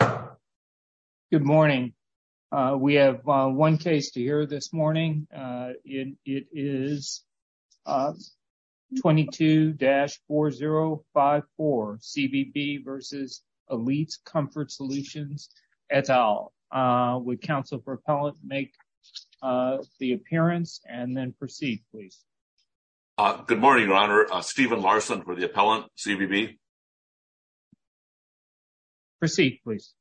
Good morning. We have one case to hear this morning. It is 22-4054, CBB v. Elite Comfort Solutions, et al. Would counsel for appellant make the appearance and then proceed, please. Good morning, Your Honor. Stephen Larson for the appellant, CBB. Proceed, please.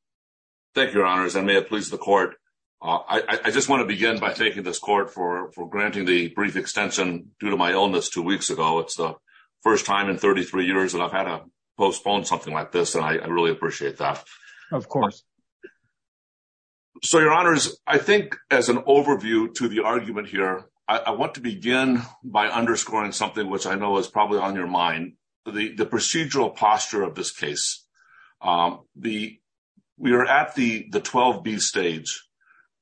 Thank you, Your Honors. I may have pleased the court. I just want to begin by thanking this court for granting the brief extension due to my illness two weeks ago. It's the first time in 33 years that I've had to postpone something like this, and I really appreciate that. Of course. So, Your Honors, I think as an overview to the argument here, I want to begin by underscoring which I know is probably on your mind, the procedural posture of this case. We are at the 12B stage,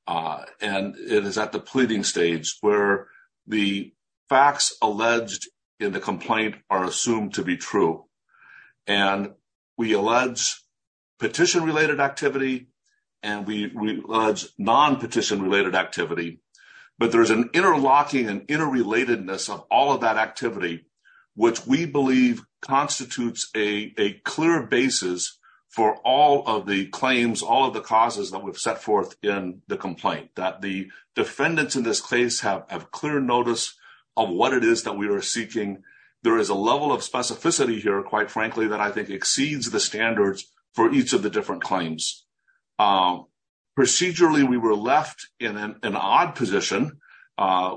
and it is at the pleading stage where the facts alleged in the complaint are assumed to be true. And we allege petition-related activity, and we allege non-petition-related activity. But there's an interlocking and interrelatedness of all that activity, which we believe constitutes a clear basis for all of the claims, all of the causes that we've set forth in the complaint, that the defendants in this case have clear notice of what it is that we are seeking. There is a level of specificity here, quite frankly, that I think exceeds the standards for each of the different claims. Procedurally, we were left in an odd position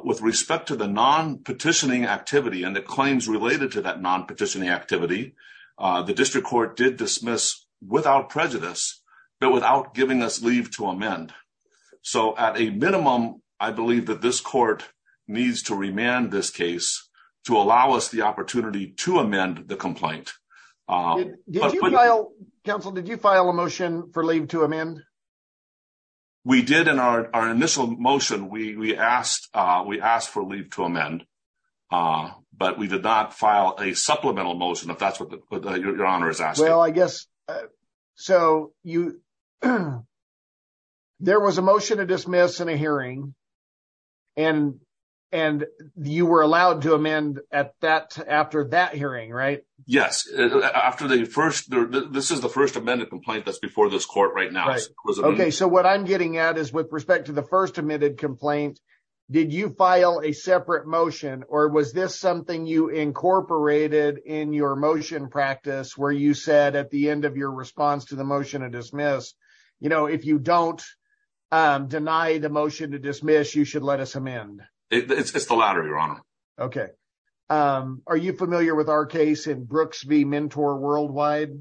with respect to the non-petitioning activity and the claims related to that non-petitioning activity. The district court did dismiss without prejudice, but without giving us leave to amend. So at a minimum, I believe that this court needs to remand this case to allow us the opportunity to amend the complaint. Did you file a motion for leave to amend? We did in our initial motion. We asked for leave to amend, but we did not file a supplemental motion, if that's what Your Honor is asking. There was a motion to dismiss in a hearing, and you were allowed to amend after that hearing, right? Yes. This is the first amended complaint that's before this court right now. So what I'm getting at is with respect to the first admitted complaint, did you file a separate motion, or was this something you incorporated in your motion practice where you said at the end of your response to the motion to dismiss, if you don't deny the motion to dismiss, you should let amend? It's the latter, Your Honor. Okay. Are you familiar with our case in Brooks v. Mentor Worldwide?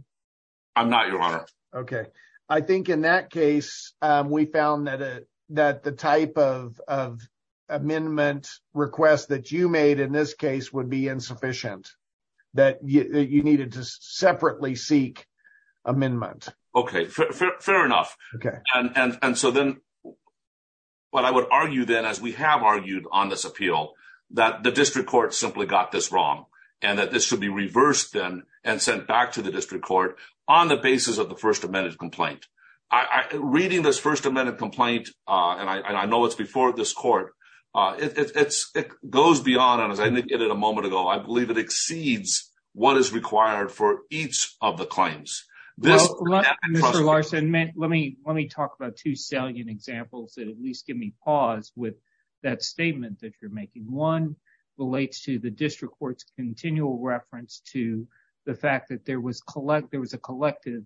I'm not, Your Honor. Okay. I think in that case, we found that the type of amendment request that you made in this case would be insufficient, that you needed to separately seek amendment. Okay. Fair enough. And so then what I would argue then, as we have argued on this appeal, that the district court simply got this wrong, and that this should be reversed then and sent back to the district court on the basis of the first amended complaint. Reading this first amended complaint, and I know it's before this court, it goes beyond, and as I indicated a client's. Mr. Larson, let me talk about two salient examples that at least give me pause with that statement that you're making. One relates to the district court's continual reference to the fact that there was a collective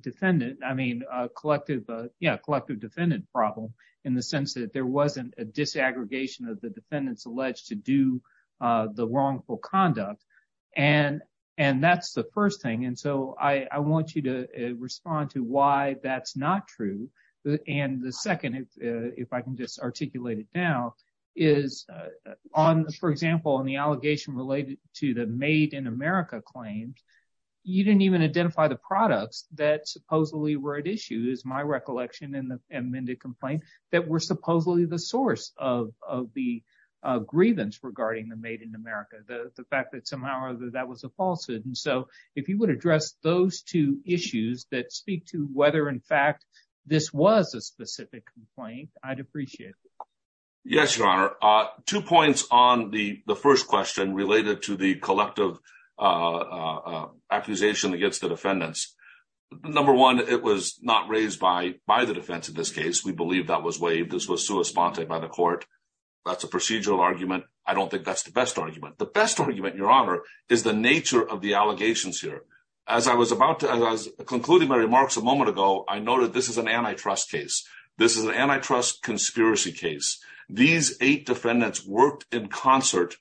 defendant, I mean, a collective, yeah, collective defendant problem in the sense that there wasn't a disaggregation of the defendants alleged to do the wrongful conduct. And that's the first thing. And so I want you to respond to why that's not true. And the second, if I can just articulate it now, is on, for example, in the allegation related to the Made in America claims, you didn't even identify the products that supposedly were at issue, is my recollection in the amended complaint, that were supposedly the source of the grievance regarding the Made in America, the fact that somehow or other that was a falsehood. And so if you would address those two issues that speak to whether in fact, this was a specific complaint, I'd appreciate it. Yes, Your Honor, two points on the first question related to the collective accusation against the defendants. Number one, it was not by the court. That's a procedural argument. I don't think that's the best argument. The best argument, Your Honor, is the nature of the allegations here. As I was about to, as I was concluding my remarks a moment ago, I noted this is an antitrust case. This is an antitrust conspiracy case. These eight defendants worked in concert.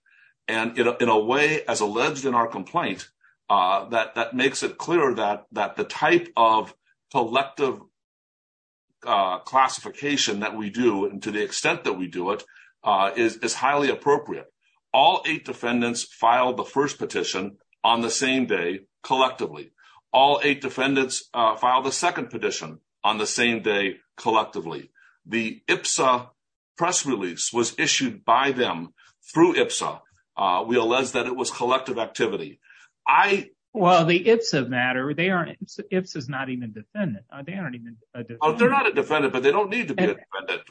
And in a way, as alleged in our complaint, that makes it clear that the type of collective classification that we do, and to the extent that we do it, is highly appropriate. All eight defendants filed the first petition on the same day, collectively. All eight defendants filed the second petition on the same day, collectively. The IPSA press release was issued by them through IPSA. We allege that it was collective activity. Well, the IPSA matter. IPSA is not even a defendant. They aren't even a defendant. They're not a defendant, but they don't need to be a defendant.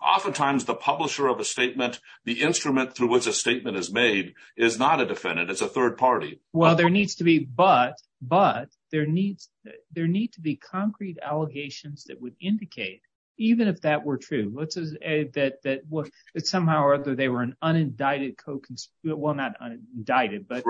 Oftentimes, the publisher of a statement, the instrument through which a statement is made, is not a defendant. It's a third party. Well, there needs to be, but there need to be concrete allegations that would indicate, even if that were true, that somehow or other they were an unindicted co-conspirator. Well, not indicted, but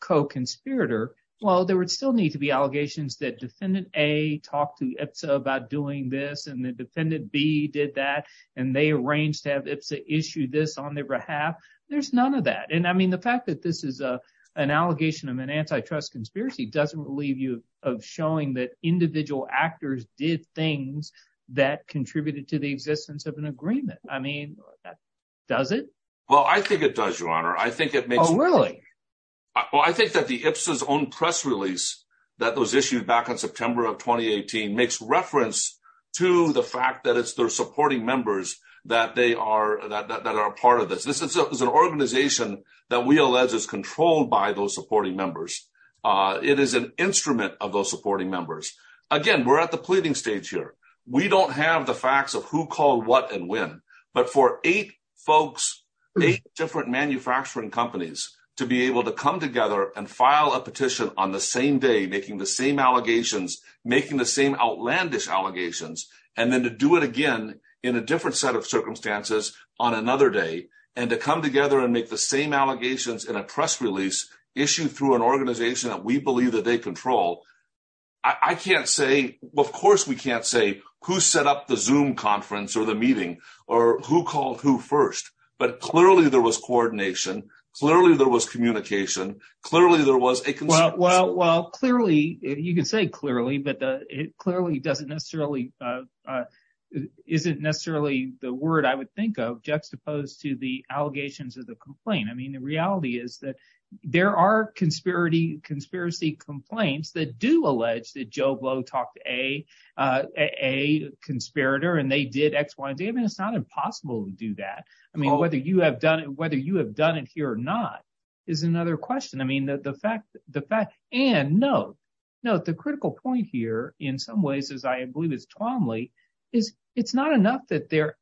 co-conspirator. Well, there would still need to be allegations that Defendant A talked to IPSA about doing this, and that Defendant B did that, and they arranged to have IPSA issue this on their behalf. There's none of that. And I mean, the fact that this is an allegation of an antitrust conspiracy doesn't relieve you of showing that individual actors did things that contributed to the existence of an agreement. I mean, does it? Well, I think it does, Your Honor. Oh, really? Well, I think that the IPSA's own press release that was issued back in September of 2018 makes reference to the fact that it's their supporting members that are a part of this. This is an organization that we allege is controlled by those supporting members. It is an instrument of those supporting members. Again, we're at the pleading stage here. We don't have the facts of who called what and when, but for eight folks, eight different manufacturing companies to be able to come together and file a petition on the same day, making the same allegations, making the same outlandish allegations, and then to do it again in a different set of circumstances on another day, and to come together and make the same allegations in a press release issued through an organization that we believe that they control, I can't say, of course we can't say, who set up the Zoom conference or the meeting or who called who first, but clearly there was coordination, clearly there was communication, clearly there was a consensus. Well, clearly, you can say clearly, but clearly doesn't necessarily, isn't necessarily the word I would think of juxtaposed to the allegations of the complaint. I mean, the reality is that there are conspiracy complaints that do allege that Joe Blow talked to a conspirator and they did X, Y, and Z. I mean, it's not impossible to do that. I mean, whether you have done it here or not is another question. I mean, the fact, and note, note the critical point here in some ways, as I believe it's Twombly, is it's not enough that their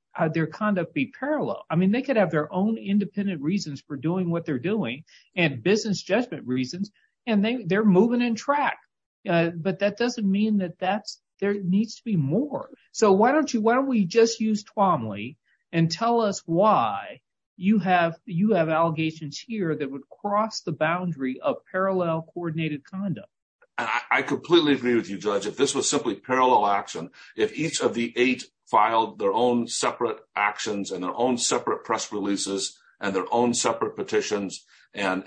conduct be parallel. I mean, they have their own independent reasons for doing what they're doing and business judgment reasons, and they're moving in track. But that doesn't mean that that's, there needs to be more. So why don't you, why don't we just use Twombly and tell us why you have, you have allegations here that would cross the boundary of parallel coordinated conduct. I completely agree with you, Judge. If this was simply parallel action, if each of the eight filed their own separate actions and their own separate press releases and their own separate petitions, and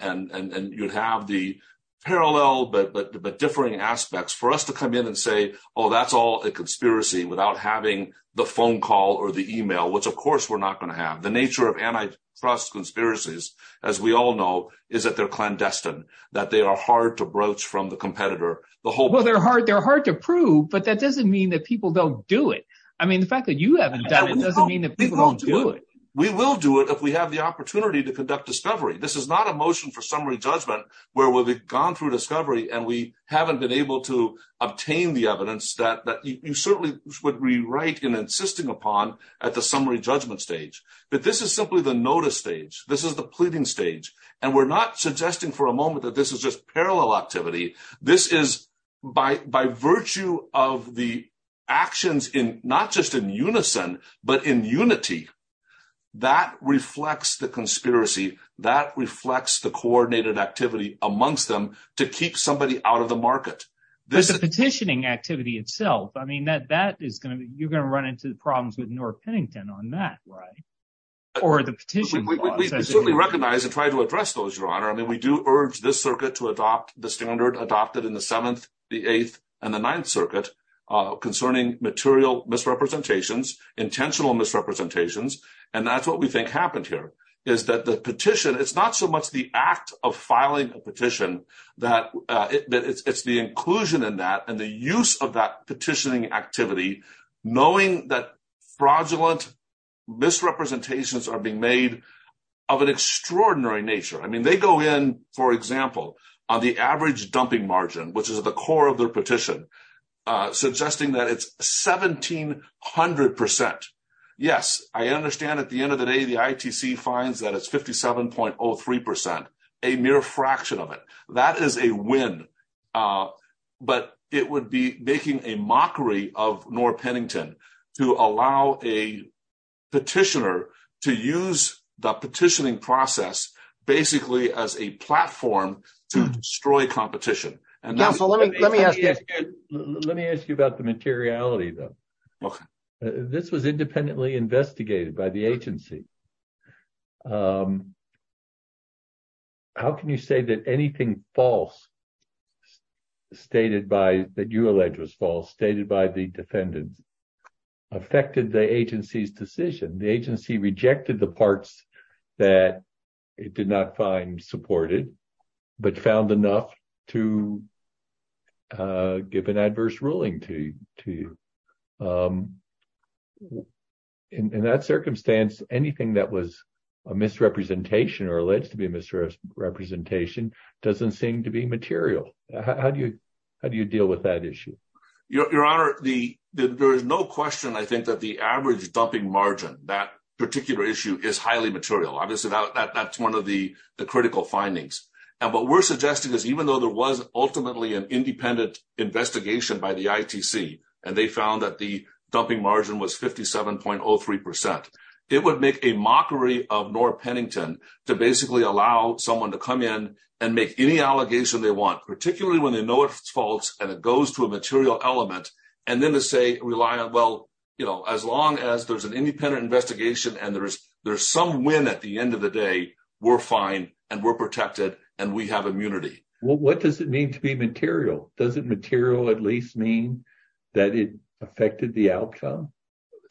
you'd have the parallel but differing aspects for us to come in and say, oh, that's all a conspiracy without having the phone call or the email, which of course we're not going to have. The nature of antitrust conspiracies, as we all know, is that they're clandestine, that they are hard to broach from the competitor. Well, they're hard to prove, but that doesn't mean that people don't do it. I mean, the fact that you haven't done it doesn't mean that people don't do it. We will do it if we have the opportunity to conduct discovery. This is not a motion for summary judgment where we've gone through discovery and we haven't been able to obtain the evidence that you certainly would rewrite in insisting upon at the summary judgment stage. But this is simply the notice stage. This is the pleading stage. And we're not suggesting for a in unison, but in unity. That reflects the conspiracy. That reflects the coordinated activity amongst them to keep somebody out of the market. There's a petitioning activity itself. I mean, that that is going to be you're going to run into the problems with North Pennington on that, right? Or the petition? We certainly recognize and try to address those, Your Honor. I mean, we do urge this circuit to adopt the standard adopted in the seventh, the eighth and the ninth concerning material misrepresentations, intentional misrepresentations. And that's what we think happened here is that the petition, it's not so much the act of filing a petition that it's the inclusion in that and the use of that petitioning activity, knowing that fraudulent misrepresentations are being made of an extraordinary nature. I mean, they go in, for example, on the average dumping margin, which is the core of their suggesting that it's 1700%. Yes, I understand at the end of the day, the ITC finds that it's 57.03%, a mere fraction of it. That is a win. But it would be making a mockery of North Pennington to allow a petitioner to use the petitioning process, basically as a platform to destroy competition. Let me ask you about the materiality though. This was independently investigated by the agency. How can you say that anything false stated by, that you allege was false, stated by the defendants affected the agency's decision? The agency rejected the parts that it did not find supported, but found enough to give an adverse ruling to you. In that circumstance, anything that was a misrepresentation or alleged to be a misrepresentation doesn't seem to be material. How do you deal with that issue? Your Honor, there is no question, I think that the average dumping margin, that particular issue is highly material. Obviously, that's one of the critical findings. What we're suggesting is even though there was ultimately an independent investigation by the ITC, and they found that the dumping margin was 57.03%, it would make a mockery of North Pennington to basically allow someone to come in and make any allegation they want, particularly when they know it's false and it goes to a material element, and then to say, rely on, well, as long as there's an independent investigation and there's some win at the end of the day, we're fine, and we're protected, and we have immunity. What does it mean to be material? Does it material at least mean that it affected the outcome?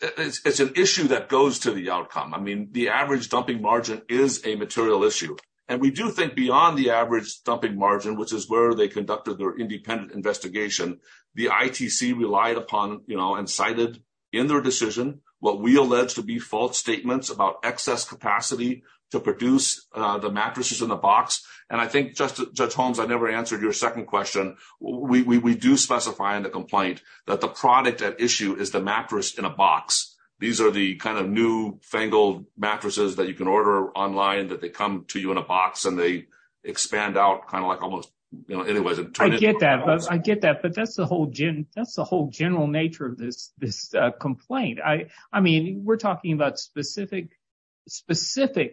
It's an issue that goes to the outcome. I mean, the average dumping margin is a material issue. And we do think beyond the average dumping margin, which is where they conducted their independent investigation, the ITC relied upon and cited in their decision what we alleged to be false statements about excess capacity to produce the mattresses in the box. And I think, Judge Holmes, I never answered your second question. We do specify in the complaint that the product at issue is the mattress in a box. These are the kind of new fangled mattresses that you can order online, that they come to you in a box and they expand out kind of like almost, you know, anyways. I get that, but that's the whole general nature of this complaint. I mean, we're talking about specific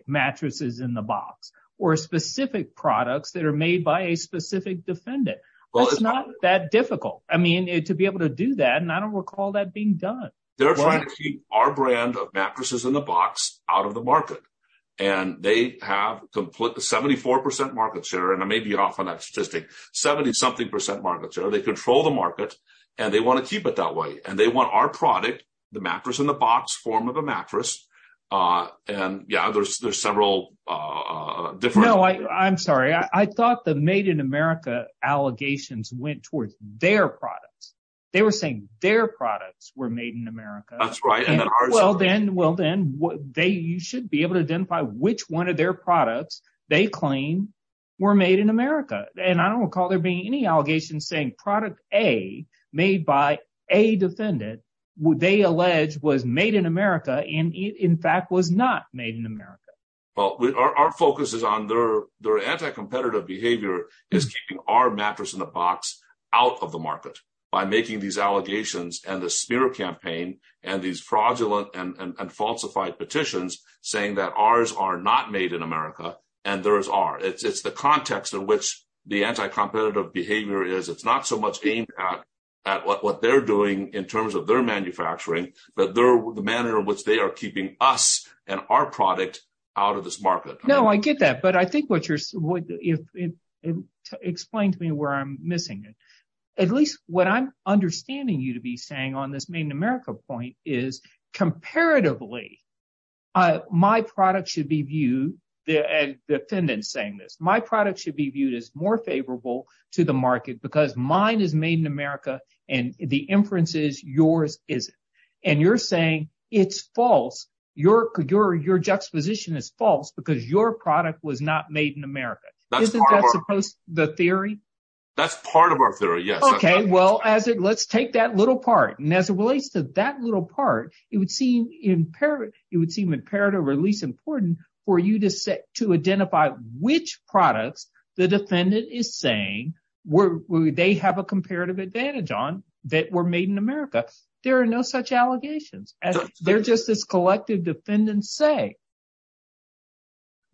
mattresses in the box or specific products that are made by a specific defendant. It's not that difficult, I mean, to be able to do that. And I don't recall that being done. They're trying to keep our brand of mattresses in the box out of the market. And they have 74% market share, and I may be off on that statistic, 70 something percent market share. They control the market and they want to keep it that way. And they want our product, the mattress in the box, form of a mattress. And yeah, there's several different... No, I'm sorry. I thought the Made in America allegations went towards their products. They were saying their products were made in America. That's right. Well, then you should be able to identify which one of their products they claim were made in America. And I don't recall there being any allegations saying product A, made by a defendant, they allege was made in America and in fact was not made in America. Well, our focus is on their anti-competitive behavior is keeping our mattress in the box out of the market by making these allegations and the Spear campaign and these fraudulent and falsified petitions saying that ours are not made in America and theirs are. It's the context in the anti-competitive behavior is it's not so much aimed at what they're doing in terms of their manufacturing, but the manner in which they are keeping us and our product out of this market. No, I get that. But I think what you're... Explain to me where I'm missing it. At least what I'm understanding you to be saying on this Made in America point is comparatively, I, my product should be viewed the defendant saying this, my product should be viewed as more favorable to the market because mine is made in America and the inferences yours isn't. And you're saying it's false. Your juxtaposition is false because your product was not made in America. Isn't that supposed to be the theory? That's part of our theory. Yes. Okay. Well, as it let's take that little part. And as it relates to that little part, it would seem imperative or at least important for you to set, to identify which products the defendant is saying they have a comparative advantage on that were made in America. There are no such allegations. They're just this collective defendants say.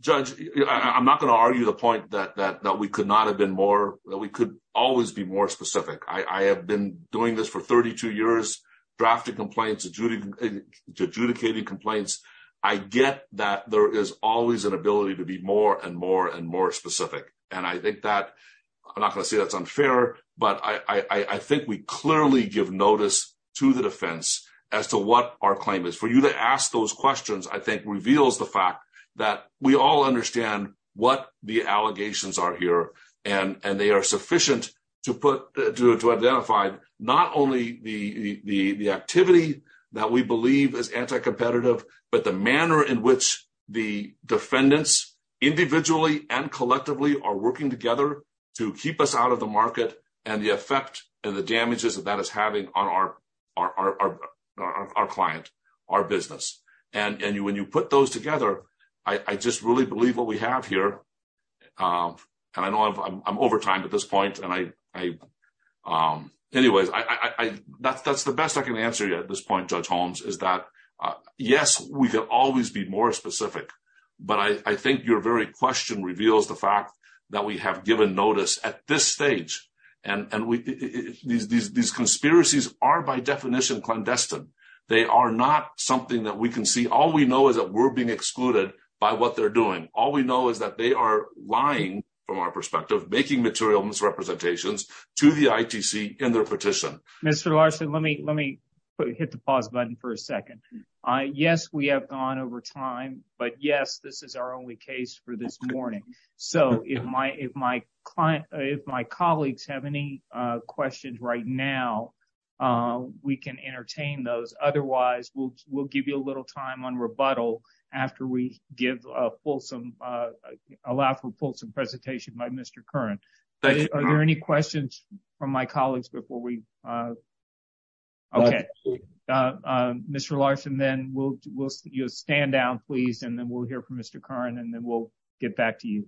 Judge, I'm not going to argue the point that we could not have been more, that we could always be more specific. I have been doing this for 32 years, drafted complaints, adjudicating complaints. I get that there is always an ability to be more and more and more specific. And I think that I'm not going to say that's unfair, but I think we clearly give notice to the defense as to what our claim is for you to ask those questions. I think reveals the fact that we all understand what the allegations are here and they are sufficient to put, to identify not only the activity that we believe is anti-competitive, but the manner in which the defendants individually and collectively are working together to keep us out of the market and the effect and the damages that that is having on our client, our business. And when you put those together, I just really believe what we have here. And I know I'm over time at this point. Anyways, that's the best I can answer you at this point, Judge Holmes, is that, yes, we can always be more specific, but I think your very question reveals the fact that we have given notice at this stage. And these conspiracies are by definition clandestine. They are not something that we can see. All we know is that we're being excluded by what they're doing. All we know is that they are lying from our perspective, making material misrepresentations to the ITC in their petition. Mr. Larson, let me hit the pause button for a second. Yes, we have gone over time, but yes, this is our only case for this morning. So if my colleagues have any questions right now, we can entertain those. Otherwise, we'll give you a little time on rebuttal after we allow for a fulsome presentation by Mr. Curran. Are there any questions from my colleagues before we? Okay. Mr. Larson, then you'll stand down, please, and then we'll hear from Mr. Curran, and then we'll get back to you.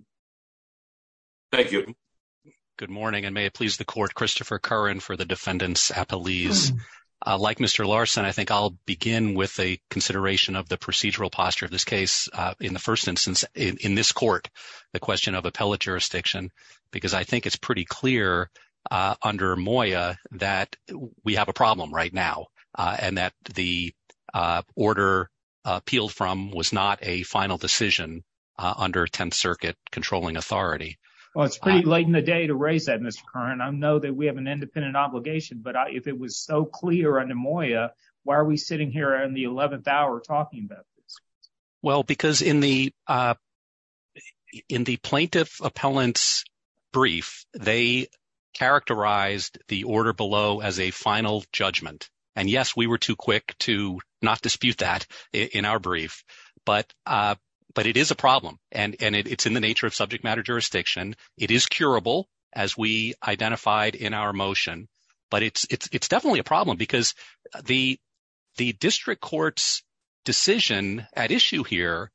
Thank you. Good morning, and may it please the Court, Christopher Curran for the Defendants Appellees. Like Mr. Larson, I think I'll begin with a consideration of the procedural posture of this case. In the first instance, in this court, the question of appellate jurisdiction, because I think it's pretty clear under Moya that we have a problem right now and that the order appealed from was not a final decision under 10th Circuit controlling authority. Well, it's pretty late in the day to raise that, Mr. Curran. I know that we have an independent obligation, but if it was so clear under Moya, why are we sitting here in the 11th hour talking about this? Well, because in the plaintiff appellant's brief, they characterized the order below as a in our brief. But it is a problem, and it's in the nature of subject matter jurisdiction. It is curable as we identified in our motion, but it's definitely a problem because the district court's decision at issue here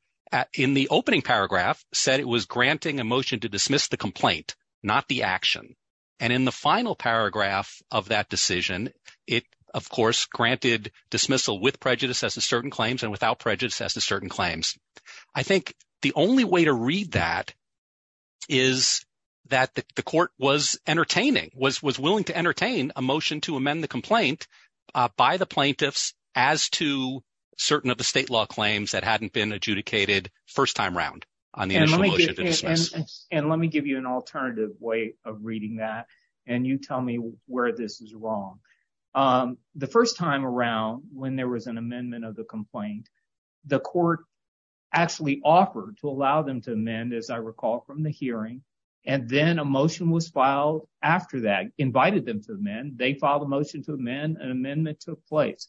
in the opening paragraph said it was granting a motion to dismiss the complaint, not the action. And in the final paragraph of that decision, it, of course, granted dismissal with prejudice as to certain claims and without prejudice as to certain claims. I think the only way to read that is that the court was entertaining, was willing to entertain a motion to amend the complaint by the plaintiffs as to certain of the state law claims that hadn't been adjudicated first time round on the initial motion to dismiss. And let me give you an alternative way of reading that, and you tell me where this is wrong. The first time around when there was an amendment of the complaint, the court actually offered to allow them to amend, as I recall from the hearing, and then a motion was filed after that, invited them to amend. They filed a motion to amend, an amendment took place.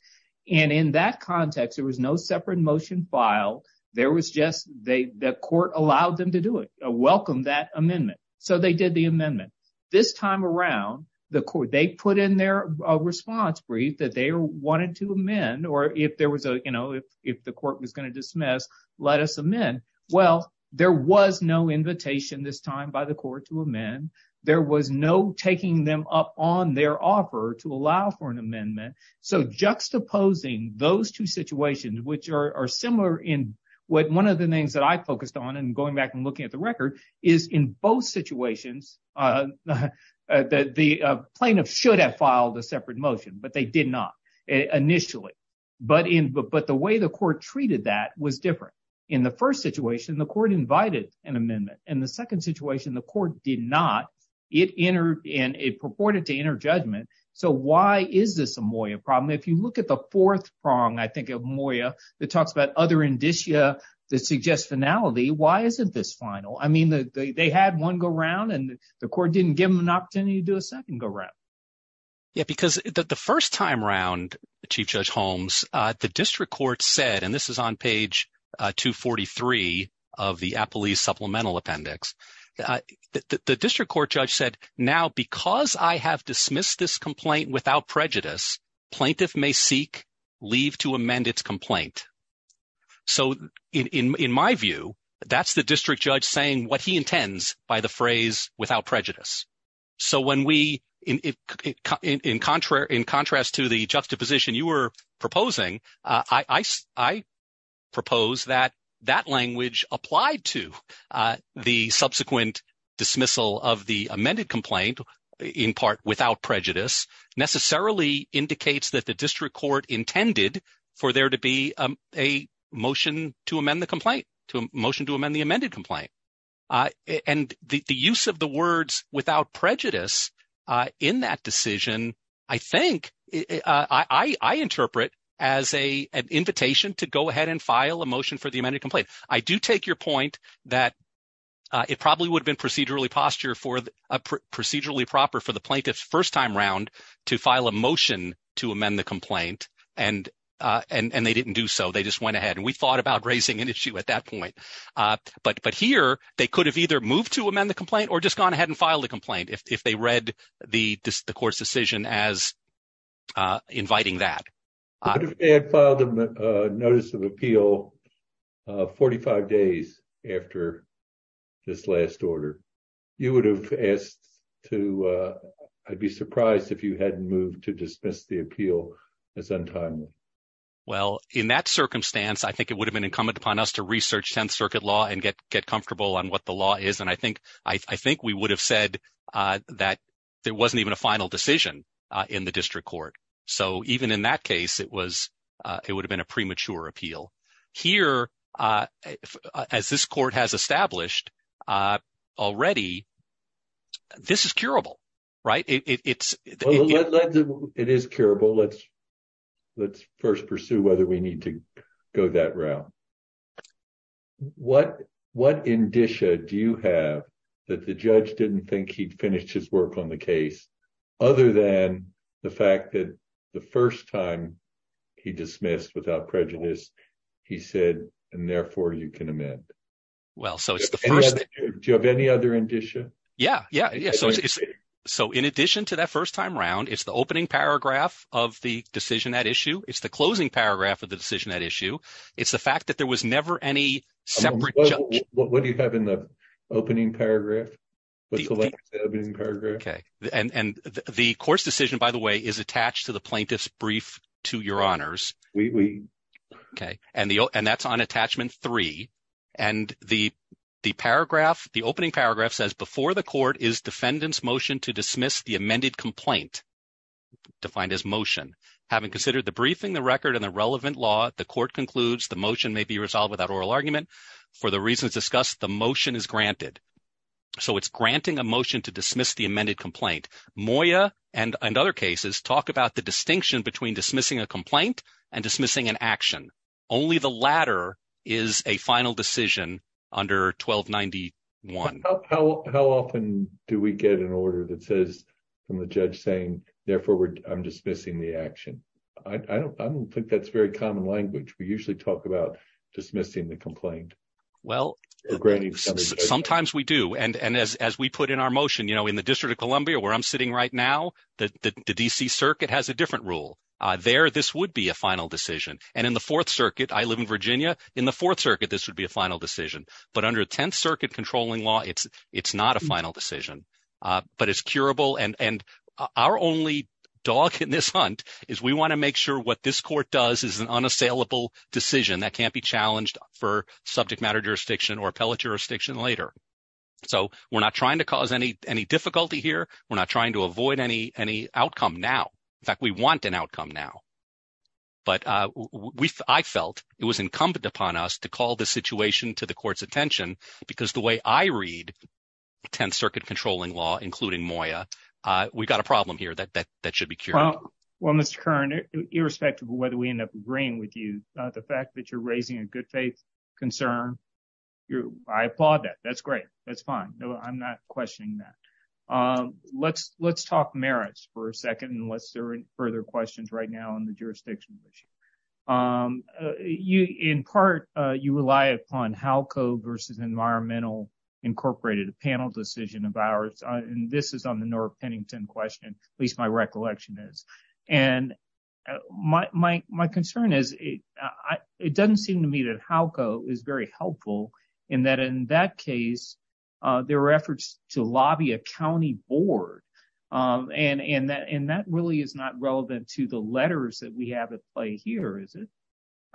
And in that context, there was no separate motion filed. There was just, the court allowed them to do it, welcomed that amendment. So they did the amendment. This time around, the court, they put in their response brief that they wanted to amend, or if there was a, you know, if the court was going to dismiss, let us amend. Well, there was no invitation this time by the court to amend. There was no taking them up on their offer to allow for an amendment. So juxtaposing those two situations, which are similar in what one of the things that I focused on, and going back and looking at the record, is in both situations, the plaintiff should have filed a separate motion, but they did not initially. But the way the court treated that was different. In the first situation, the court invited an amendment. In the second situation, the court did not. It entered in, it purported to enter judgment. So why is this a Moya problem? If you look at the fourth prong, I think of Moya, that talks about other indicia that suggest finality, why isn't this final? I mean, they had one go round and the court didn't give them an opportunity to do a second go round. Yeah, because the first time around, Chief Judge Holmes, the district court said, and this is on page 243 of the Appellee's Supplemental The district court judge said, now, because I have dismissed this complaint without prejudice, plaintiff may seek leave to amend its complaint. So in my view, that's the district judge saying what he intends by the phrase without prejudice. So when we, in contrast to the juxtaposition you were proposing, I propose that that language applied to the subsequent dismissal of the amended complaint, in part without prejudice, necessarily indicates that the district court intended for there to be a motion to amend the complaint, to a motion to amend the amended complaint. And the use of the words without prejudice in that decision, I think I interpret as an invitation to go ahead and file a motion for the amended complaint. I do take your point that it probably would have been procedurally posture for procedurally proper for the plaintiff's first time round to file a motion to amend the complaint. And they didn't do so. They just went We thought about raising an issue at that point. But here, they could have either moved to amend the complaint or just gone ahead and filed a complaint if they read the court's decision as inviting that. But if they had filed a notice of appeal 45 days after this last order, you would have asked to, I'd be surprised if you hadn't moved to dismiss the appeal as untimely. Well, in that circumstance, I think it would have been incumbent upon us to research 10th Circuit law and get comfortable on what the law is. And I think we would have said that there wasn't even a final decision in the district court. So even in that case, it would have been a premature appeal. Here, as this court has established already, this is curable, right? Well, it is curable. Let's first pursue whether we need to go that route. What indicia do you have that the judge didn't think he'd finished his work on the case, other than the fact that the first time he dismissed without prejudice, he said, and therefore, you can amend? Do you have any other indicia? Yeah, yeah. So in addition to that first time round, it's the opening paragraph of the decision at issue. It's the closing paragraph of the decision at issue. It's the fact that there was never any separate. What do you have in the opening paragraph? And the court's decision, by the way, is attached to the plaintiff's brief to your honors. And that's on attachment three. And the opening paragraph says, before the court is defendant's motion to dismiss the amended complaint, defined as motion. Having considered the briefing, the record and the relevant law, the court concludes the motion may be resolved without oral argument. For the reasons discussed, the motion is granted. So it's granting a motion to dismiss the amended complaint. Moya and other cases talk about the distinction between dismissing a complaint and dismissing an action. Only the latter is a final decision under 1291. How often do we get an order that says from the judge saying, therefore, I'm dismissing the action? I don't think that's very common language. We usually talk about dismissing the complaint. Well, sometimes we do. And as we put in our motion, you know, in the District of Columbia, where I'm sitting right now, the D.C. Circuit has a different rule. There, this would be a final decision. And in the Fourth Circuit, I live in Virginia. In the Fourth Circuit, this would be final decision. But under 10th Circuit controlling law, it's not a final decision. But it's curable. And our only dog in this hunt is we want to make sure what this court does is an unassailable decision that can't be challenged for subject matter jurisdiction or appellate jurisdiction later. So we're not trying to cause any difficulty here. We're not trying to avoid any outcome now. In fact, we want an outcome now. But I felt it was incumbent upon us to call the situation to the court's attention because the way I read 10th Circuit controlling law, including Moya, we've got a problem here that that should be cured. Well, well, Mr. Kern, irrespective of whether we end up agreeing with you, the fact that you're raising a good faith concern, I applaud that. That's great. That's fine. I'm not questioning that. Let's let's talk merits for a second, unless there are further questions right now on the jurisdiction issue. In part, you rely upon HALCO versus Environmental Incorporated, a panel decision of ours. And this is on the North Pennington question, at least my recollection is. And my concern is, it doesn't seem to me that HALCO is very helpful in that in that case, there were efforts to lobby a county board. And that really is not relevant to the letters that we have at play here, is it?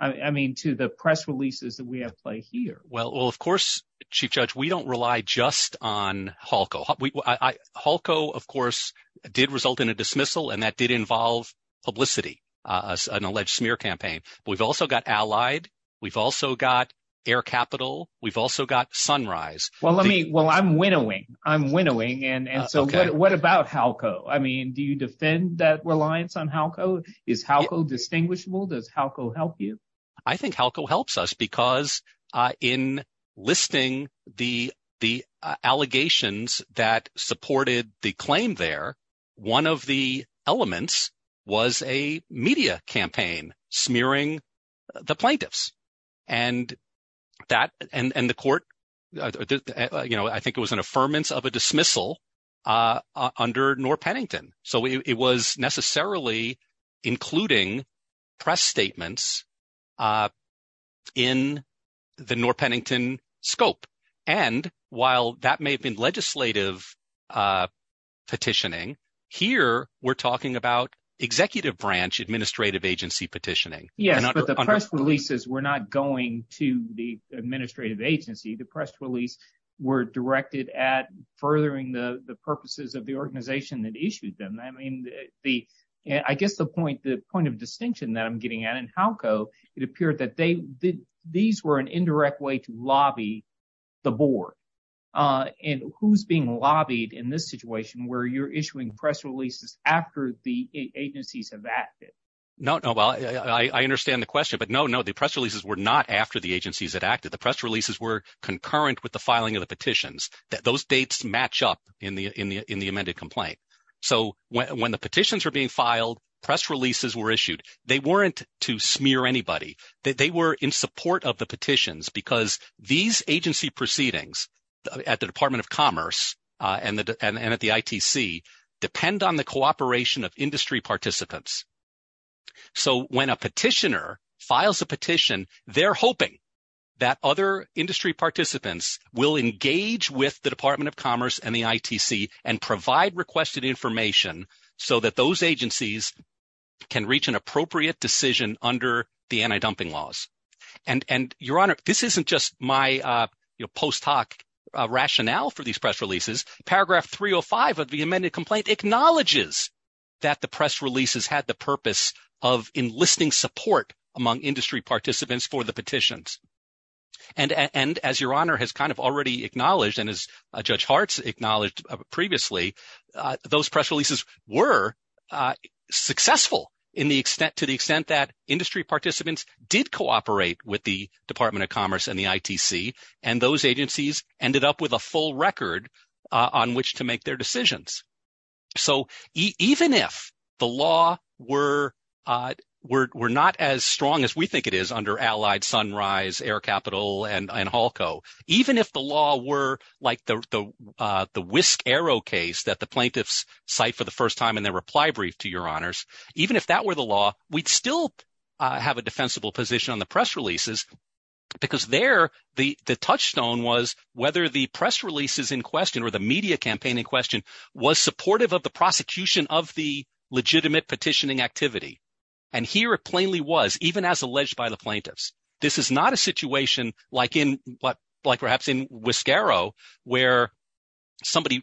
I mean, to the press releases that we have play here? Well, of course, Chief Judge, we don't rely just on HALCO. HALCO, of course, did result in a dismissal. And that did involve publicity, an alleged smear campaign. We've also got Allied. We've also got Air Capital. We've also got Sunrise. Well, let me well, I'm winnowing. I'm winnowing. And so what about HALCO? I mean, do you defend that reliance on HALCO? Is HALCO distinguishable? Does HALCO help you? I think HALCO helps us because in listing the the allegations that supported the claim there, one of the elements was a media campaign smearing the plaintiffs. And that and the court, you know, I think it was an affirmance of a dismissal under Norr Pennington. So it was necessarily including press statements in the Norr Pennington scope. And while that may have been legislative petitioning, here we're talking about executive branch administrative agency petitioning. Yes, but the press releases were not going to the administrative agency. The press release were directed at furthering the purposes of the organization that issued them. I mean, the I guess the point, the point of distinction that I'm getting at in HALCO, it appeared that they these were an indirect way to lobby the board. And who's being lobbied in this situation where you're issuing press releases after the agencies have acted? No, no. Well, I understand the question. But no, no, the press releases were not after the the filing of the petitions that those dates match up in the in the in the amended complaint. So when the petitions were being filed, press releases were issued. They weren't to smear anybody. They were in support of the petitions because these agency proceedings at the Department of Commerce and at the ITC depend on the cooperation of industry participants. So when a petitioner files a petition, they're hoping that other industry participants will engage with the Department of Commerce and the ITC and provide requested information so that those agencies can reach an appropriate decision under the anti-dumping laws. And Your Honor, this isn't just my post hoc rationale for these press releases. Paragraph 305 of the amended complaint acknowledges that the press releases had the purpose of enlisting support among industry participants for the petitions. And as Your Honor has kind of already acknowledged and as Judge Hartz acknowledged previously, those press releases were successful in the extent to the extent that industry participants did cooperate with the Department of Commerce and the ITC. And those agencies ended up with a full record on which to make their decisions. So even if the law were not as strong as we think it is under Allied, Sunrise, Air Capital and Halco, even if the law were like the whisk arrow case that the plaintiffs cite for the first time in their reply brief to Your Honors, even if that were the law, we'd still have a defensible position on the press releases because there the touchstone was whether the press releases in question or the media campaign in question was supportive of the prosecution of the legitimate petitioning activity. And here it plainly was, even as alleged by the plaintiffs. This is not a situation like in what like perhaps in whisk arrow where somebody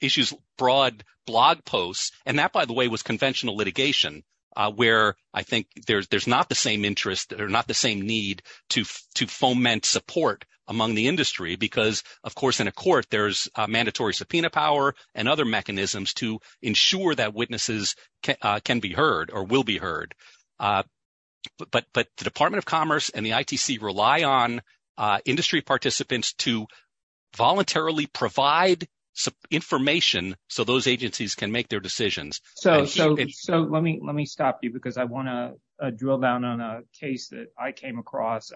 issues broad blog posts. And that, by the way, was not the same need to foment support among the industry because, of course, in a court, there's mandatory subpoena power and other mechanisms to ensure that witnesses can be heard or will be heard. But the Department of Commerce and the ITC rely on industry participants to voluntarily provide information so those agencies can make their decisions. So so so let me let me stop you because I want to drill down on a case that I came across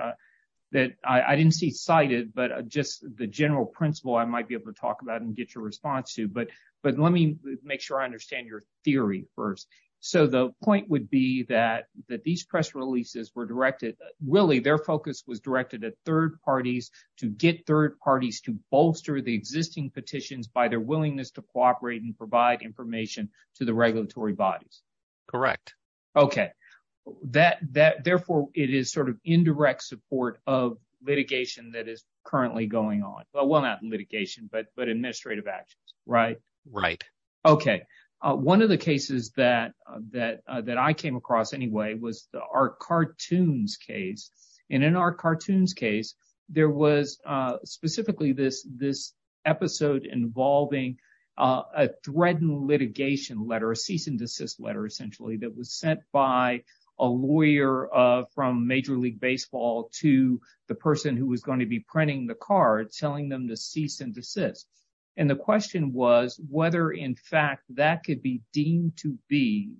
that I didn't see cited, but just the general principle I might be able to talk about and get your response to. But but let me make sure I understand your theory first. So the point would be that that these press releases were directed. Really, their focus was directed at third parties to get third parties to bolster the existing petitions by their willingness to cooperate and provide information to the regulatory bodies. Correct. OK, that that therefore it is sort of indirect support of litigation that is currently going on. Well, not litigation, but but administrative actions. Right. Right. OK. One of the cases that that that I came across anyway was the art cartoons case. And in our cartoons case, there was specifically this this episode involving a threatened litigation letter, a cease and desist letter, essentially, that was sent by a lawyer from Major League Baseball to the person who was going to be printing the card, telling them to cease and desist. And the question was whether, in fact, that could be deemed to be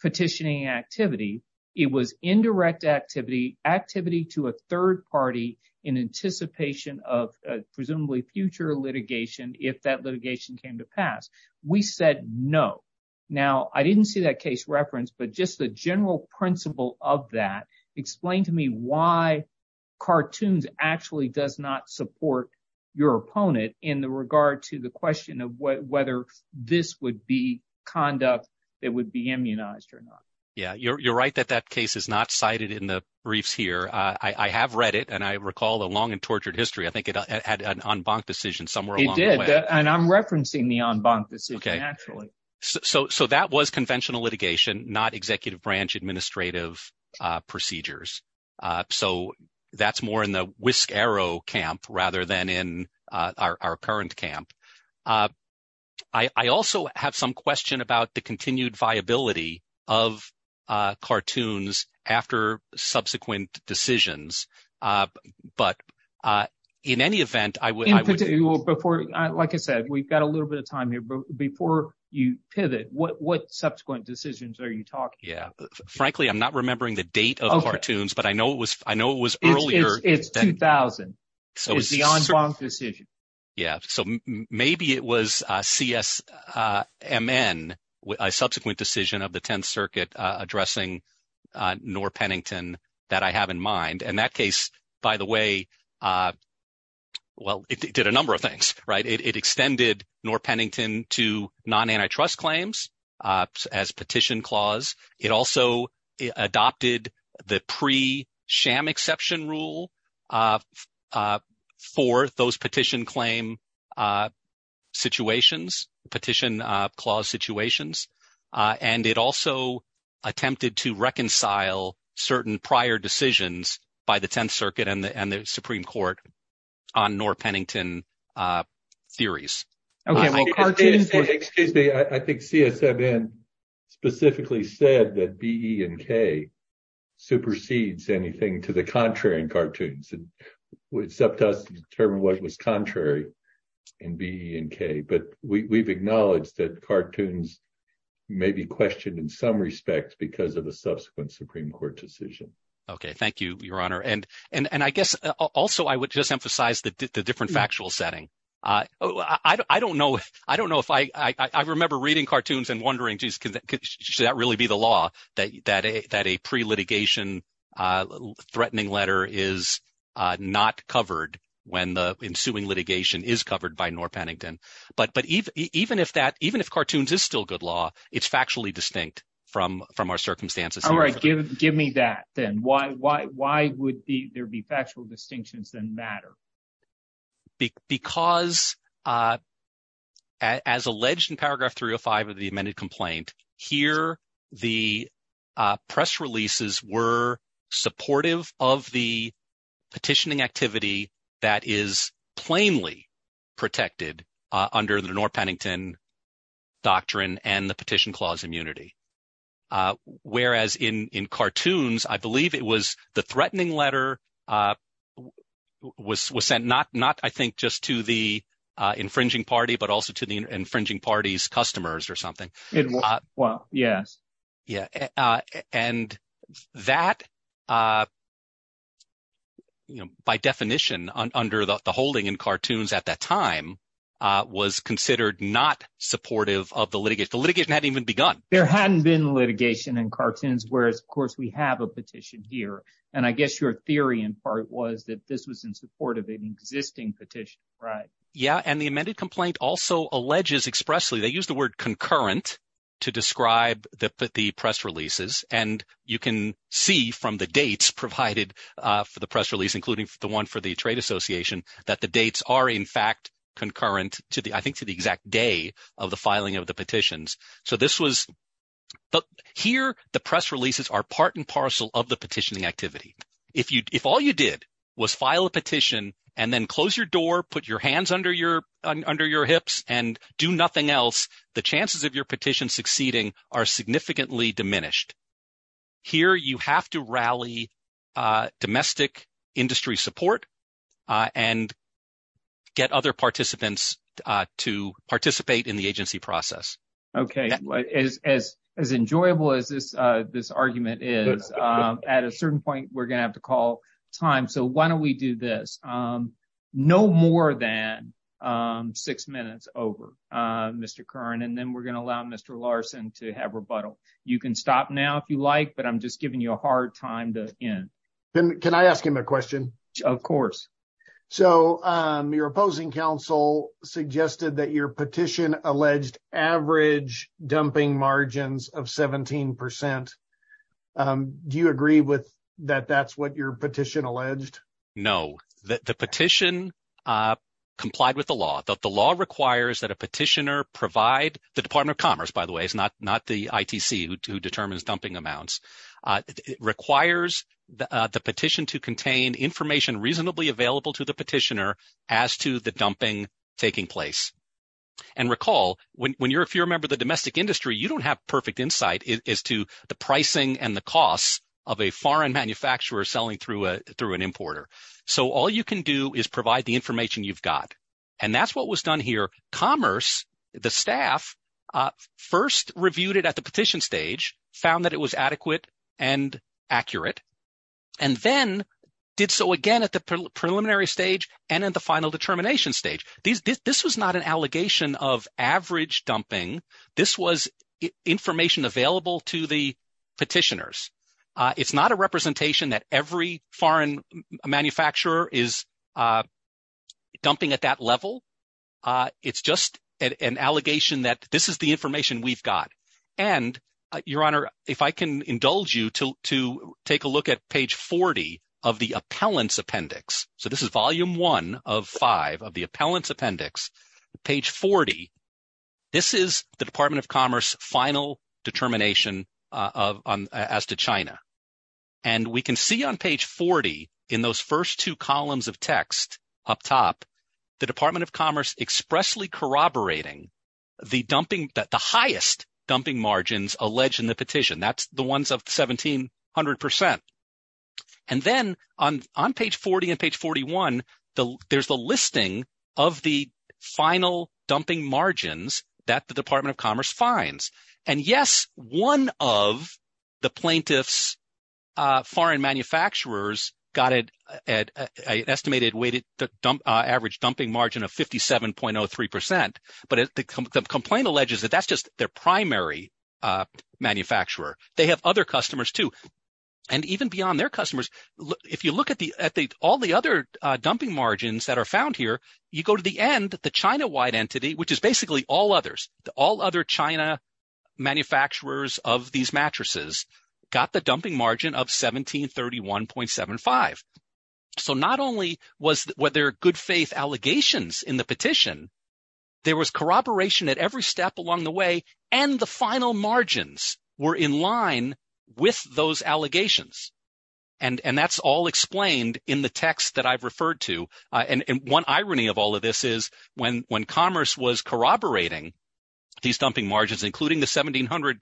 petitioning activity. It was indirect activity, activity to a third party in anticipation of presumably future litigation. If that litigation came to pass, we said no. Now, I didn't see that case reference, but just the general principle of that explained to me why cartoons actually does not support your opponent in the regard to the question of whether this would be conduct that would be immunized or not. Yeah, you're right that that case is not cited in the briefs here. I have read it and I recall the long and tortured history. I think it had an en banc decision somewhere. It did. And I'm referencing the en banc decision, actually. So so that was conventional litigation, not executive branch administrative procedures. So that's more in the whisk arrow camp rather than in our current camp. I also have some question about the continued viability of cartoons after subsequent decisions. But in any event, I would put it before. Like I said, we've got a little bit of time here before you pivot. What subsequent decisions are you talking? Yeah, frankly, I'm not remembering the date of cartoons, but I know it was I know it was earlier. It's 2000. So it's the en banc decision. Yeah. So maybe it was CSMN, a subsequent decision of the 10th Circuit addressing Norr Pennington that I have in mind. And that case, by the way. Well, it did a number of things, right? It extended Norr Pennington to non-antitrust claims as petition clause. It also adopted the pre-Sham exception rule for those petition claim situations, petition clause situations. And it also attempted to reconcile certain prior decisions by the 10th Circuit and the Supreme Court on Norr Pennington theories. I think CSMN specifically said that B, E and K supersedes anything to the contrary in cartoons except us to determine what was contrary in B and K. But we've acknowledged that cartoons may be questioned in some respect because of the subsequent Supreme Court decision. OK, thank you, Your Honor. And and I guess also I would just emphasize the different factual setting. I don't know. I don't know if I remember reading cartoons and wondering, should that really be the law that a pre-litigation threatening letter is not covered when the ensuing litigation is covered by Norr Pennington? But even if that, even if cartoons is still good law, it's factually distinct from our circumstances. All right. Give me that then. Why would there be factual distinctions that matter? Because as alleged in paragraph 305 of the amended complaint here, the press releases were supportive of the petitioning activity that is plainly protected under the Norr Pennington doctrine and the petition clause immunity. Whereas in cartoons, I believe it was the threatening letter was was sent not not, I think, just to the infringing party, but also to the infringing party's customers or something. Well, yes. Yeah. And that. By definition, under the holding in cartoons at that time was considered not supportive of the litigation, the litigation had even begun. There hadn't been litigation in cartoons, whereas, of course, we have a petition here. And I guess your theory in part was that this was in support of an existing petition. Right. Yeah. And the amended complaint also alleges expressly they use the word concurrent to describe the press releases. And you can see from the dates provided for the press release, including the one for the Trade Association, that the dates are, in fact, concurrent to the I think to the exact day of the filing of the petitions. So this was here. The press releases are part and part of the petitioning activity. If you if all you did was file a petition and then close your door, put your hands under your under your hips and do nothing else, the chances of your petition succeeding are significantly diminished here. You have to rally domestic industry support and get other participants to participate in the agency process. OK, as as as enjoyable as this this argument is at a certain point, we're going to have to call time. So why don't we do this no more than six minutes over, Mr. Curran, and then we're going to allow Mr. Larson to have rebuttal. You can stop now if you like, but I'm just giving you a hard time to end. Can I ask him a question? Of course. So your opposing counsel suggested that your petition alleged average dumping margins of 17 percent. Do you agree with that? That's what your petition alleged. No, the petition complied with the law. The law requires that a petitioner provide the Department of Commerce, by the way, is not not the ITC who determines dumping amounts. It requires the petition to contain information reasonably available to the petitioner as to the dumping taking place. And recall when you're if you remember the domestic industry, you don't have perfect insight as to the pricing and the costs of a foreign manufacturer selling through a through an importer. So all you can do is provide the information you've got. And that's what was done here. Commerce, the staff, first reviewed it at the petition stage, found that it was adequate and accurate, and then did so again at the preliminary stage and at the final determination stage. This was not an allegation of average dumping. This was information available to the petitioners. It's not a representation that every foreign manufacturer is dumping at that level. It's just an allegation that this is the information we've got. And your honor, if I can indulge you to take a look at page 40 of the appellant's appendix. So this is volume one of five of the appellant's appendix, page 40. This is the Department of Commerce final determination of as to China. And we can see on page 40 in those first two columns of text up top, the Department of Commerce expressly corroborating the dumping that the highest dumping margins alleged in the petition. That's the ones of 1700%. And then on page 40 and page 41, there's the listing of the final dumping margins that the Department of Commerce finds. And yes, one of the plaintiff's foreign manufacturers got an estimated weighted average dumping margin of 57.03%. But the complaint alleges that that's their primary manufacturer. They have other customers too. And even beyond their customers, if you look at all the other dumping margins that are found here, you go to the end, the China wide entity, which is basically all others, all other China manufacturers of these mattresses got the dumping margin of 1731.75. So not only were there good faith allegations in the petition, there was corroboration at every step along the way. And the final margins were in line with those allegations. And that's all explained in the text that I've referred to. And one irony of all of this is when commerce was corroborating these dumping margins, including the 1700%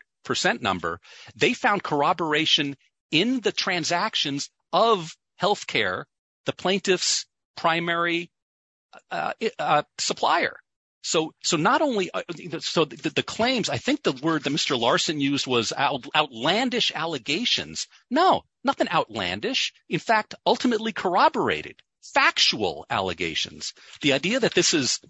number, they found corroboration in the transactions of healthcare, the plaintiff's primary supplier. So not only, so the claims, I think the word that Mr. Larson used was outlandish allegations. No, nothing outlandish. In fact, ultimately corroborated factual allegations. The idea that this is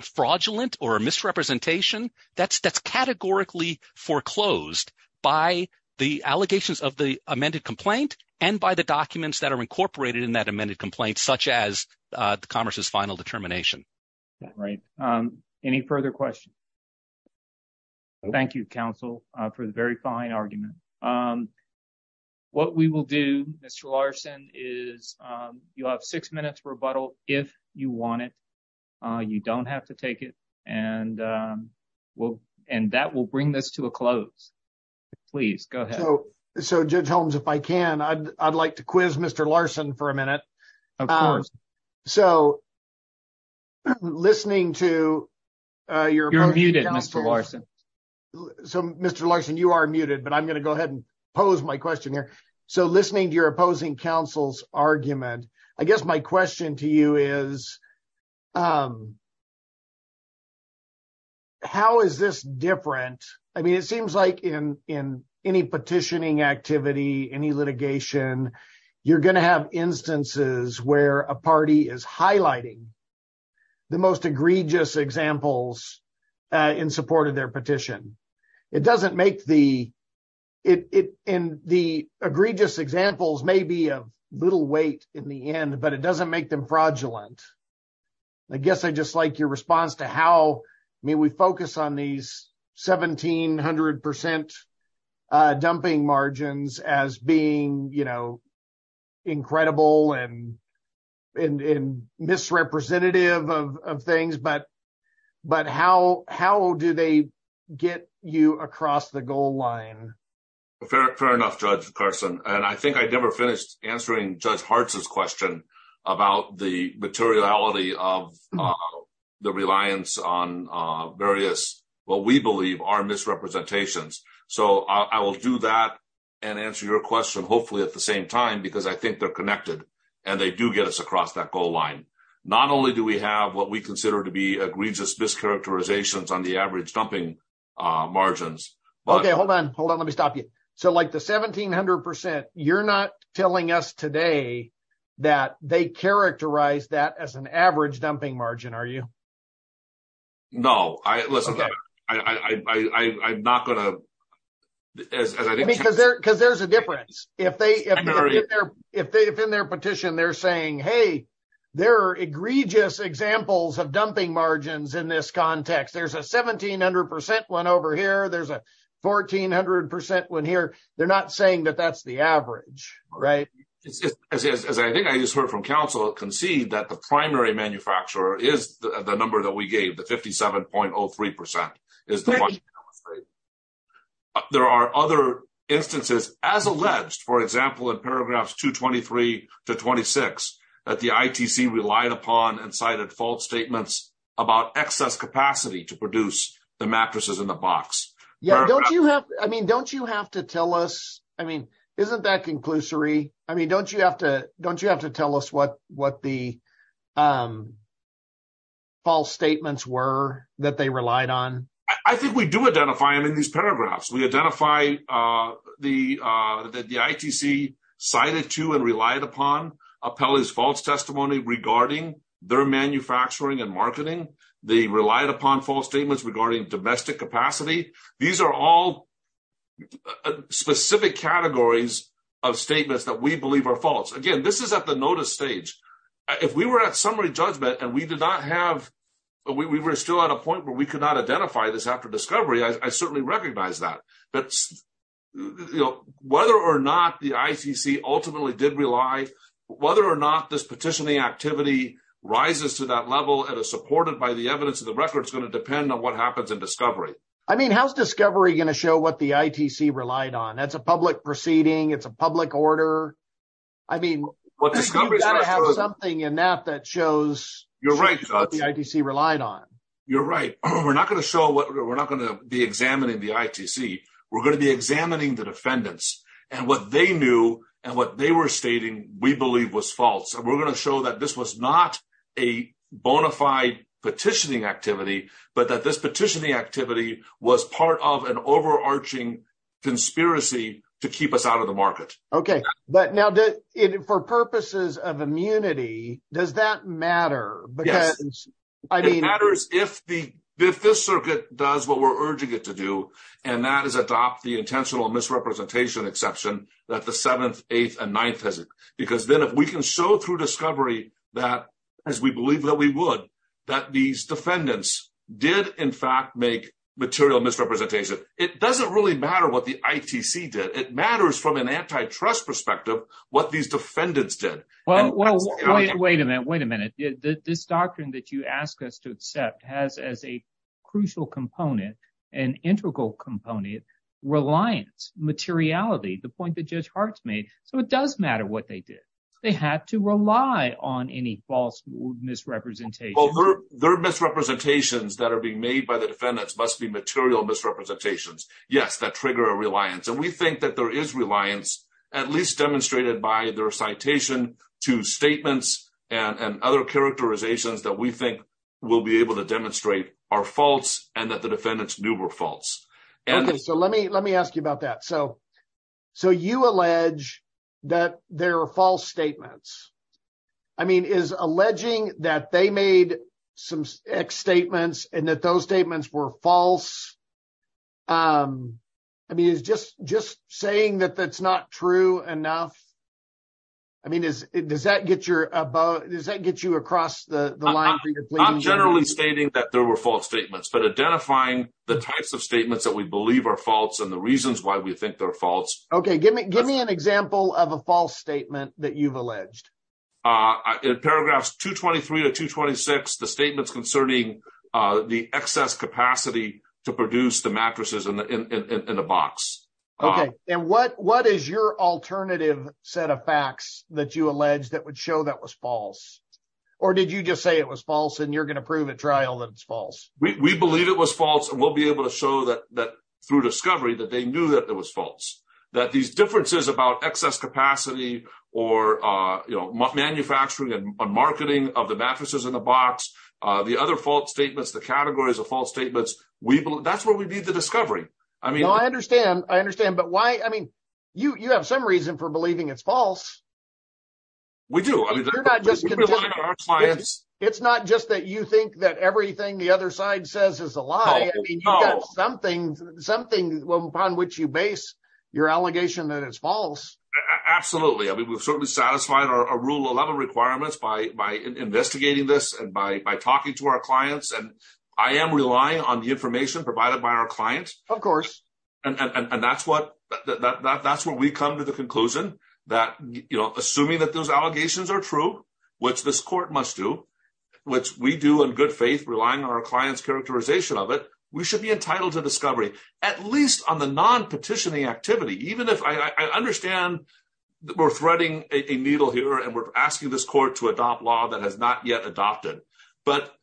fraudulent or misrepresentation, that's categorically foreclosed by the allegations of the amended complaint and by the documents that are incorporated in that amended complaint, such as the commerce's final determination. Right. Any further questions? Thank you, counsel, for the very fine argument. What we will do, Mr. Larson, is you'll have six minutes rebuttal if you want it. You don't have to take it. And that will bring this to a close. Please go ahead. So Judge Holmes, if I can, I'd like to quiz Mr. Larson for a minute. Of course. So listening to your... You're muted, Mr. Larson. So Mr. Larson, you are muted, but I'm going to go ahead and pose my question here. So listening to your opposing counsel's argument, I guess my question to you is, how is this different? I mean, it seems like in any petitioning activity, any litigation, you're going to have instances where a party is highlighting the most egregious examples in support of their petition. It doesn't make the... And the egregious examples may be a weight in the end, but it doesn't make them fraudulent. I guess I just like your response to how... I mean, we focus on these 1700% dumping margins as being incredible and misrepresentative of things, but how do they get you across the goal line? Fair enough, Judge Carson. And I think I never finished answering Judge Hartz's question about the materiality of the reliance on various, what we believe are misrepresentations. So I will do that and answer your question hopefully at the same time, because I think they're connected and they do get us across that goal line. Not only do we have what we consider to be egregious mischaracterizations on the average dumping margins, but... Okay, hold on. Hold on. Let me stop you. So like the 1700%, you're not telling us today that they characterize that as an average dumping margin, are you? No. Listen, I'm not going to... Because there's a difference. If in their petition, they're saying, hey, there are egregious examples of dumping margins in this context. There's a 1700% one over here. There's a 1400% one here. They're not saying that that's the average, right? As I think I just heard from counsel concede that the primary manufacturer is the number that we gave, the 57.03% is the one... There are other instances as alleged, for example, in paragraphs 223 to 26, that the ITC relied upon and cited false statements about excess capacity to produce the mattresses in the box. I mean, don't you have to tell us? I mean, isn't that conclusory? I mean, don't you have to tell us what the false statements were that they relied on? I think we do identify them in these paragraphs. We identify that the ITC cited to and relied upon Appellee's false testimony regarding their manufacturing and marketing. They relied upon false statements regarding domestic capacity. These are all specific categories of statements that we believe are false. Again, this is at the notice stage. If we were at summary judgment and we did not have... We were still at a point where we could not identify this after discovery, I certainly recognize that. Whether or not the ITC ultimately did rely, whether or not this petitioning activity rises to that level and is supported by the evidence of the record is going to depend on what happens in discovery. I mean, how's discovery going to show what the ITC relied on? That's a public proceeding. It's a public order. I mean, you've got to have something in that that shows... You're right. We're not going to show what... We're not going to be examining the ITC. We're going to be examining the defendants and what they knew and what they were stating we believe was false. We're going to show that this was not a bona fide petitioning activity, but that this petitioning activity was part of an overarching conspiracy to keep us out of the market. Okay. But now for purposes of immunity, does that matter? Because I mean... If this circuit does what we're urging it to do, and that is adopt the intentional misrepresentation exception that the seventh, eighth, and ninth visit, because then if we can show through discovery that as we believe that we would, that these defendants did in fact make material misrepresentation, it doesn't really matter what the ITC did. It matters from an antitrust perspective what these defendants did. Well, wait a minute. Wait a minute. This doctrine that you ask us to accept has as a crucial component, an integral component, reliance, materiality, the point that Judge Hart's made. So it does matter what they did. They had to rely on any false misrepresentation. Well, their misrepresentations that are being made by the defendants must be material misrepresentations. Yes, that trigger a reliance. And we think that there is reliance, at least demonstrated by their citation to statements and other characterizations that we think we'll be able to demonstrate are false and that the defendants knew were false. Okay. So let me ask you about that. So you allege that there are false statements. I mean, is alleging that they made some X statements and that those statements were false, I mean, is just saying that that's not true enough? I mean, does that get you across the line? I'm generally stating that there were false statements, but identifying the types of statements that we believe are false and the reasons why we think they're false. Okay. Give me an example of a false statement that you've alleged. In paragraphs 223 to 226, the statements concerning the excess capacity to produce the mattresses in a box. Okay. And what is your alternative set of facts that you allege that would show that was false? Or did you just say it was false and you're going to prove at trial that it's false? We believe it was false and we'll be able to show that through discovery that they knew that it was false. That these differences about excess capacity or manufacturing and marketing of the other fault statements, the categories of false statements, that's where we need the discovery. I mean- No, I understand. I understand. But why? I mean, you have some reason for believing it's false. We do. I mean, we rely on our clients. It's not just that you think that everything the other side says is a lie. I mean, you've got something upon which you base your allegation that it's false. Absolutely. I mean, we've certainly satisfied our Rule 11 requirements by investigating this and by talking to our clients. And I am relying on the information provided by our clients. Of course. And that's where we come to the conclusion that assuming that those allegations are true, which this court must do, which we do in good faith, relying on our client's characterization of it, we should be entitled to asking this court to adopt law that has not yet adopted. But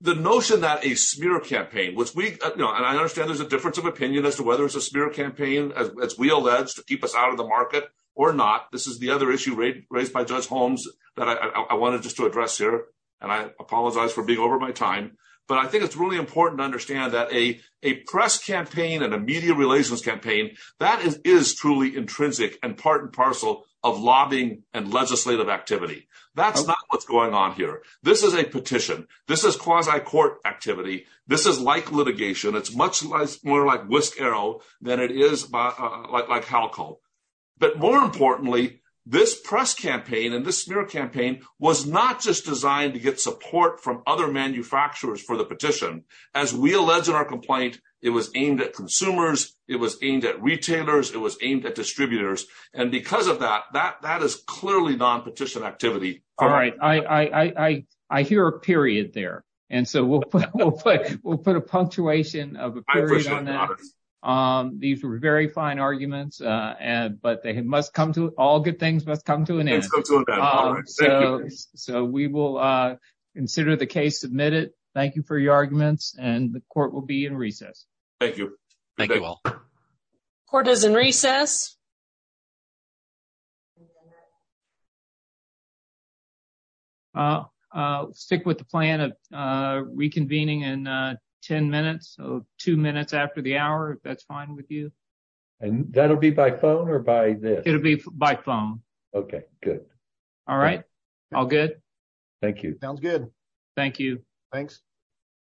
the notion that a smear campaign, which we- And I understand there's a difference of opinion as to whether it's a smear campaign, as we allege, to keep us out of the market or not. This is the other issue raised by Judge Holmes that I wanted just to address here. And I apologize for being over my time. But I think it's really important to understand that a press campaign and a media relations campaign, that is truly intrinsic and part and parcel of lobbying and legislative activity. That's not what's going on here. This is a petition. This is quasi-court activity. This is like litigation. It's much more like whisk arrow than it is like alcohol. But more importantly, this press campaign and this smear campaign was not just designed to get support from other manufacturers for the petition. As we allege in our complaint, it was aimed at consumers, it was aimed at retailers, it was aimed at distributors. And because of that, that is clearly non-petition activity. All right. I hear a period there. And so we'll put a punctuation of a period on that. These were very fine arguments, but all good things must come to an end. So we will consider the case submitted. Thank you for your arguments. And the court will be in recess. Thank you. Thank you all. Court is in recess. Stick with the plan of reconvening in 10 minutes or two minutes after the hour, if that's fine with you. And that'll be by phone or by this? It'll be by phone. Okay, good. All right. All good. Thank you. Sounds good. Thank you. Thanks.